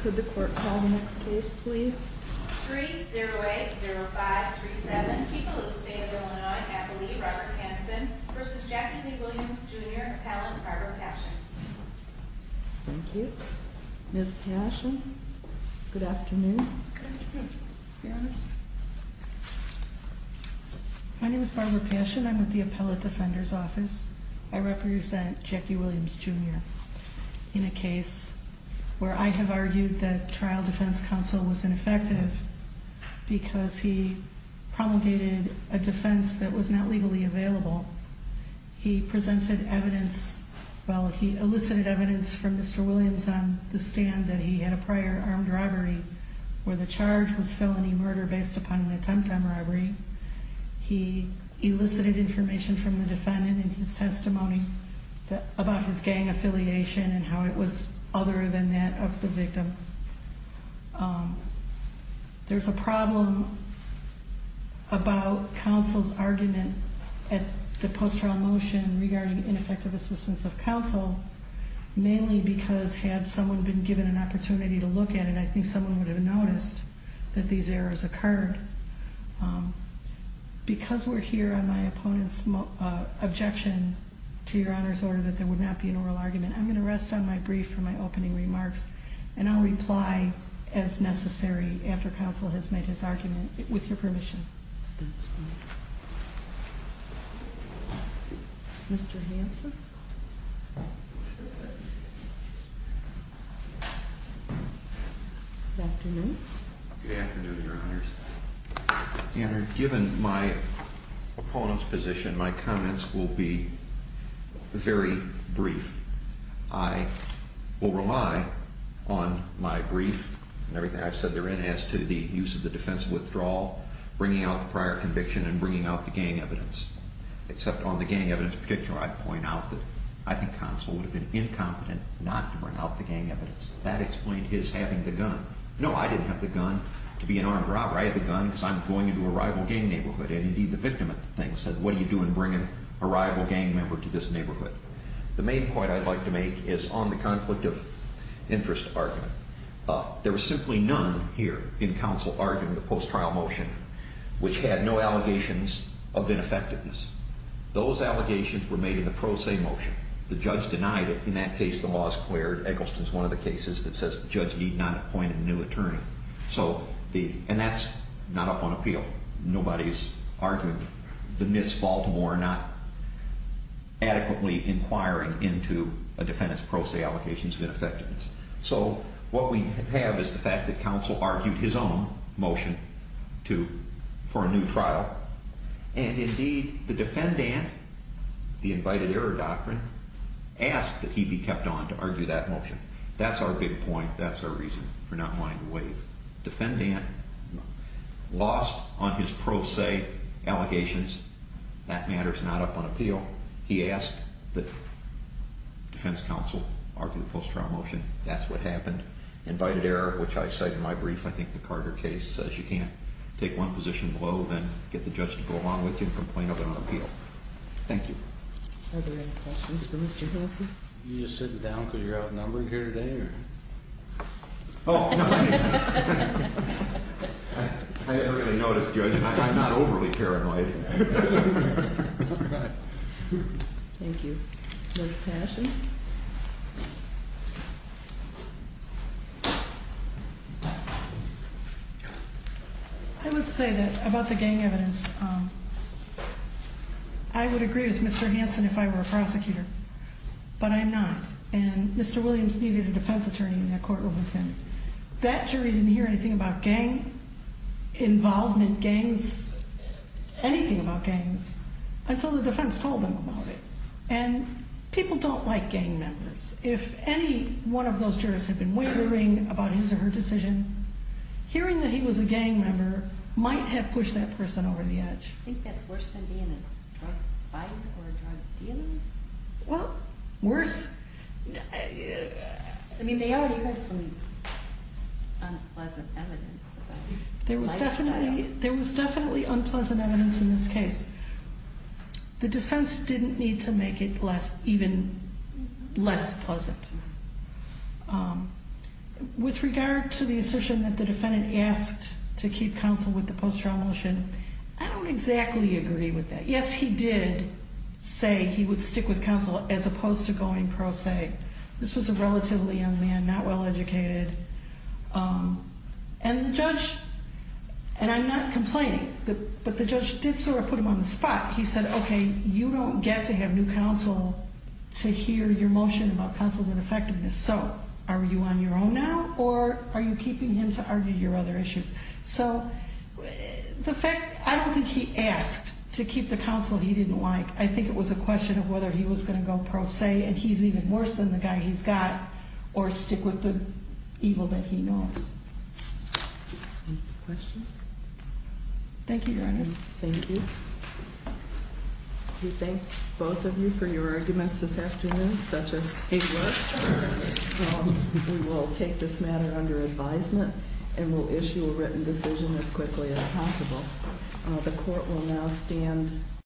Could the court call the next case, please? 3080537, People of the State of Illinois, Appellee Barbara Hansen v. Jackie J. Williams, Jr., Appellant Barbara Paschen. Thank you, Ms. Paschen. Good afternoon. My name is Barbara Paschen. I'm with the Appellate Defender's Office. I represent Jackie Williams, Jr. In a case where I have argued that trial defense counsel was ineffective because he promulgated a defense that was not legally available. He presented evidence. Well, he elicited evidence from Mr. Williams on the stand that he had a prior armed robbery where the charge was felony murder based upon an attempt on robbery. He elicited information from the defendant in his testimony about his gang affiliation and how it was other than that of the victim. There's a problem about counsel's argument at the post-trial motion regarding ineffective assistance of counsel, mainly because had someone been given an opportunity to look at it, I think someone would have noticed that these errors occurred. Because we're here on my opponent's objection to your Honor's order that there would not be an oral argument, I'm going to rest on my brief for my opening remarks, and I'll reply as necessary after counsel has made his argument, with your permission. Mr. Hansen. Good afternoon. Good afternoon, Your Honors. Your Honor, given my opponent's position, my comments will be very brief. I will rely on my brief and everything I've said therein as to the use of the defense of withdrawal, bringing out the prior conviction, and bringing out the gang evidence. Except on the gang evidence in particular, I'd point out that I think counsel would have been incompetent not to bring out the gang evidence. That explained his having the gun. No, I didn't have the gun to be an armed robber. I had the gun because I'm going into a rival gang neighborhood, and indeed the victim of the thing said, what are you doing bringing a rival gang member to this neighborhood? The main point I'd like to make is on the conflict of interest argument, there was simply none here in counsel arguing the post-trial motion which had no allegations of ineffectiveness. Those allegations were made in the pro se motion. The judge denied it. In that case, the law is cleared. Eggleston's one of the cases that says the judge need not appoint a new attorney. So the, and that's not up on appeal. Nobody's arguing. The Mitz, Baltimore, not adequately inquiring into a defendant's pro se allocations of ineffectiveness. So what we have is the fact that counsel argued his own motion to, for a new trial. And indeed the defendant, the invited error doctrine, asked that he be kept on to argue that motion. That's our big point. That's our reason for not wanting to waive. Defendant lost on his pro se allegations. That matter's not up on appeal. He asked that defense counsel argue the post-trial motion. That's what happened. Invited error, which I cite in my brief. I think the Carter case says you can't take one position below, then get the judge to go along with you and complain of it on appeal. Thank you. Are there any questions for Mr. Hanson? You just sitting down because you're outnumbered here today or? Oh, no. I didn't really notice, Judge, and I'm not overly paranoid. Thank you. Ms. Cashion. I would say that about the gang evidence. I would agree with Mr. Hanson if I were a prosecutor, but I'm not. And Mr. Williams needed a defense attorney in the courtroom with him. That jury didn't hear anything about gang involvement, gangs, anything about gangs until the defense told them about it. And people don't like gang members. If any one of those jurors had been wavering about his or her decision, hearing that he was a gang member might have pushed that person over the edge. I think that's worse than being in a drug fight or a drug deal. Well, worse. I mean, they already had some unpleasant evidence. There was definitely there was definitely unpleasant evidence in this case. The defense didn't need to make it less even less pleasant. With regard to the assertion that the defendant asked to keep counsel with the post-trial motion, I don't exactly agree with that. Yes, he did say he would stick with counsel as opposed to going pro se. This was a relatively young man, not well educated. And the judge and I'm not complaining, but the judge did sort of put him on the spot. He said, OK, you don't get to have new counsel to hear your motion about counsel's ineffectiveness. So are you on your own now or are you keeping him to argue your other issues? So the fact I don't think he asked to keep the counsel he didn't like. I think it was a question of whether he was going to go pro se and he's even worse than the guy he's got or stick with the counsel. Evil that he knows. Questions. Thank you, Your Honor. Thank you. We thank both of you for your arguments this afternoon, such as a look. We will take this matter under advisement and will issue a written decision as quickly as possible. The court will now stand.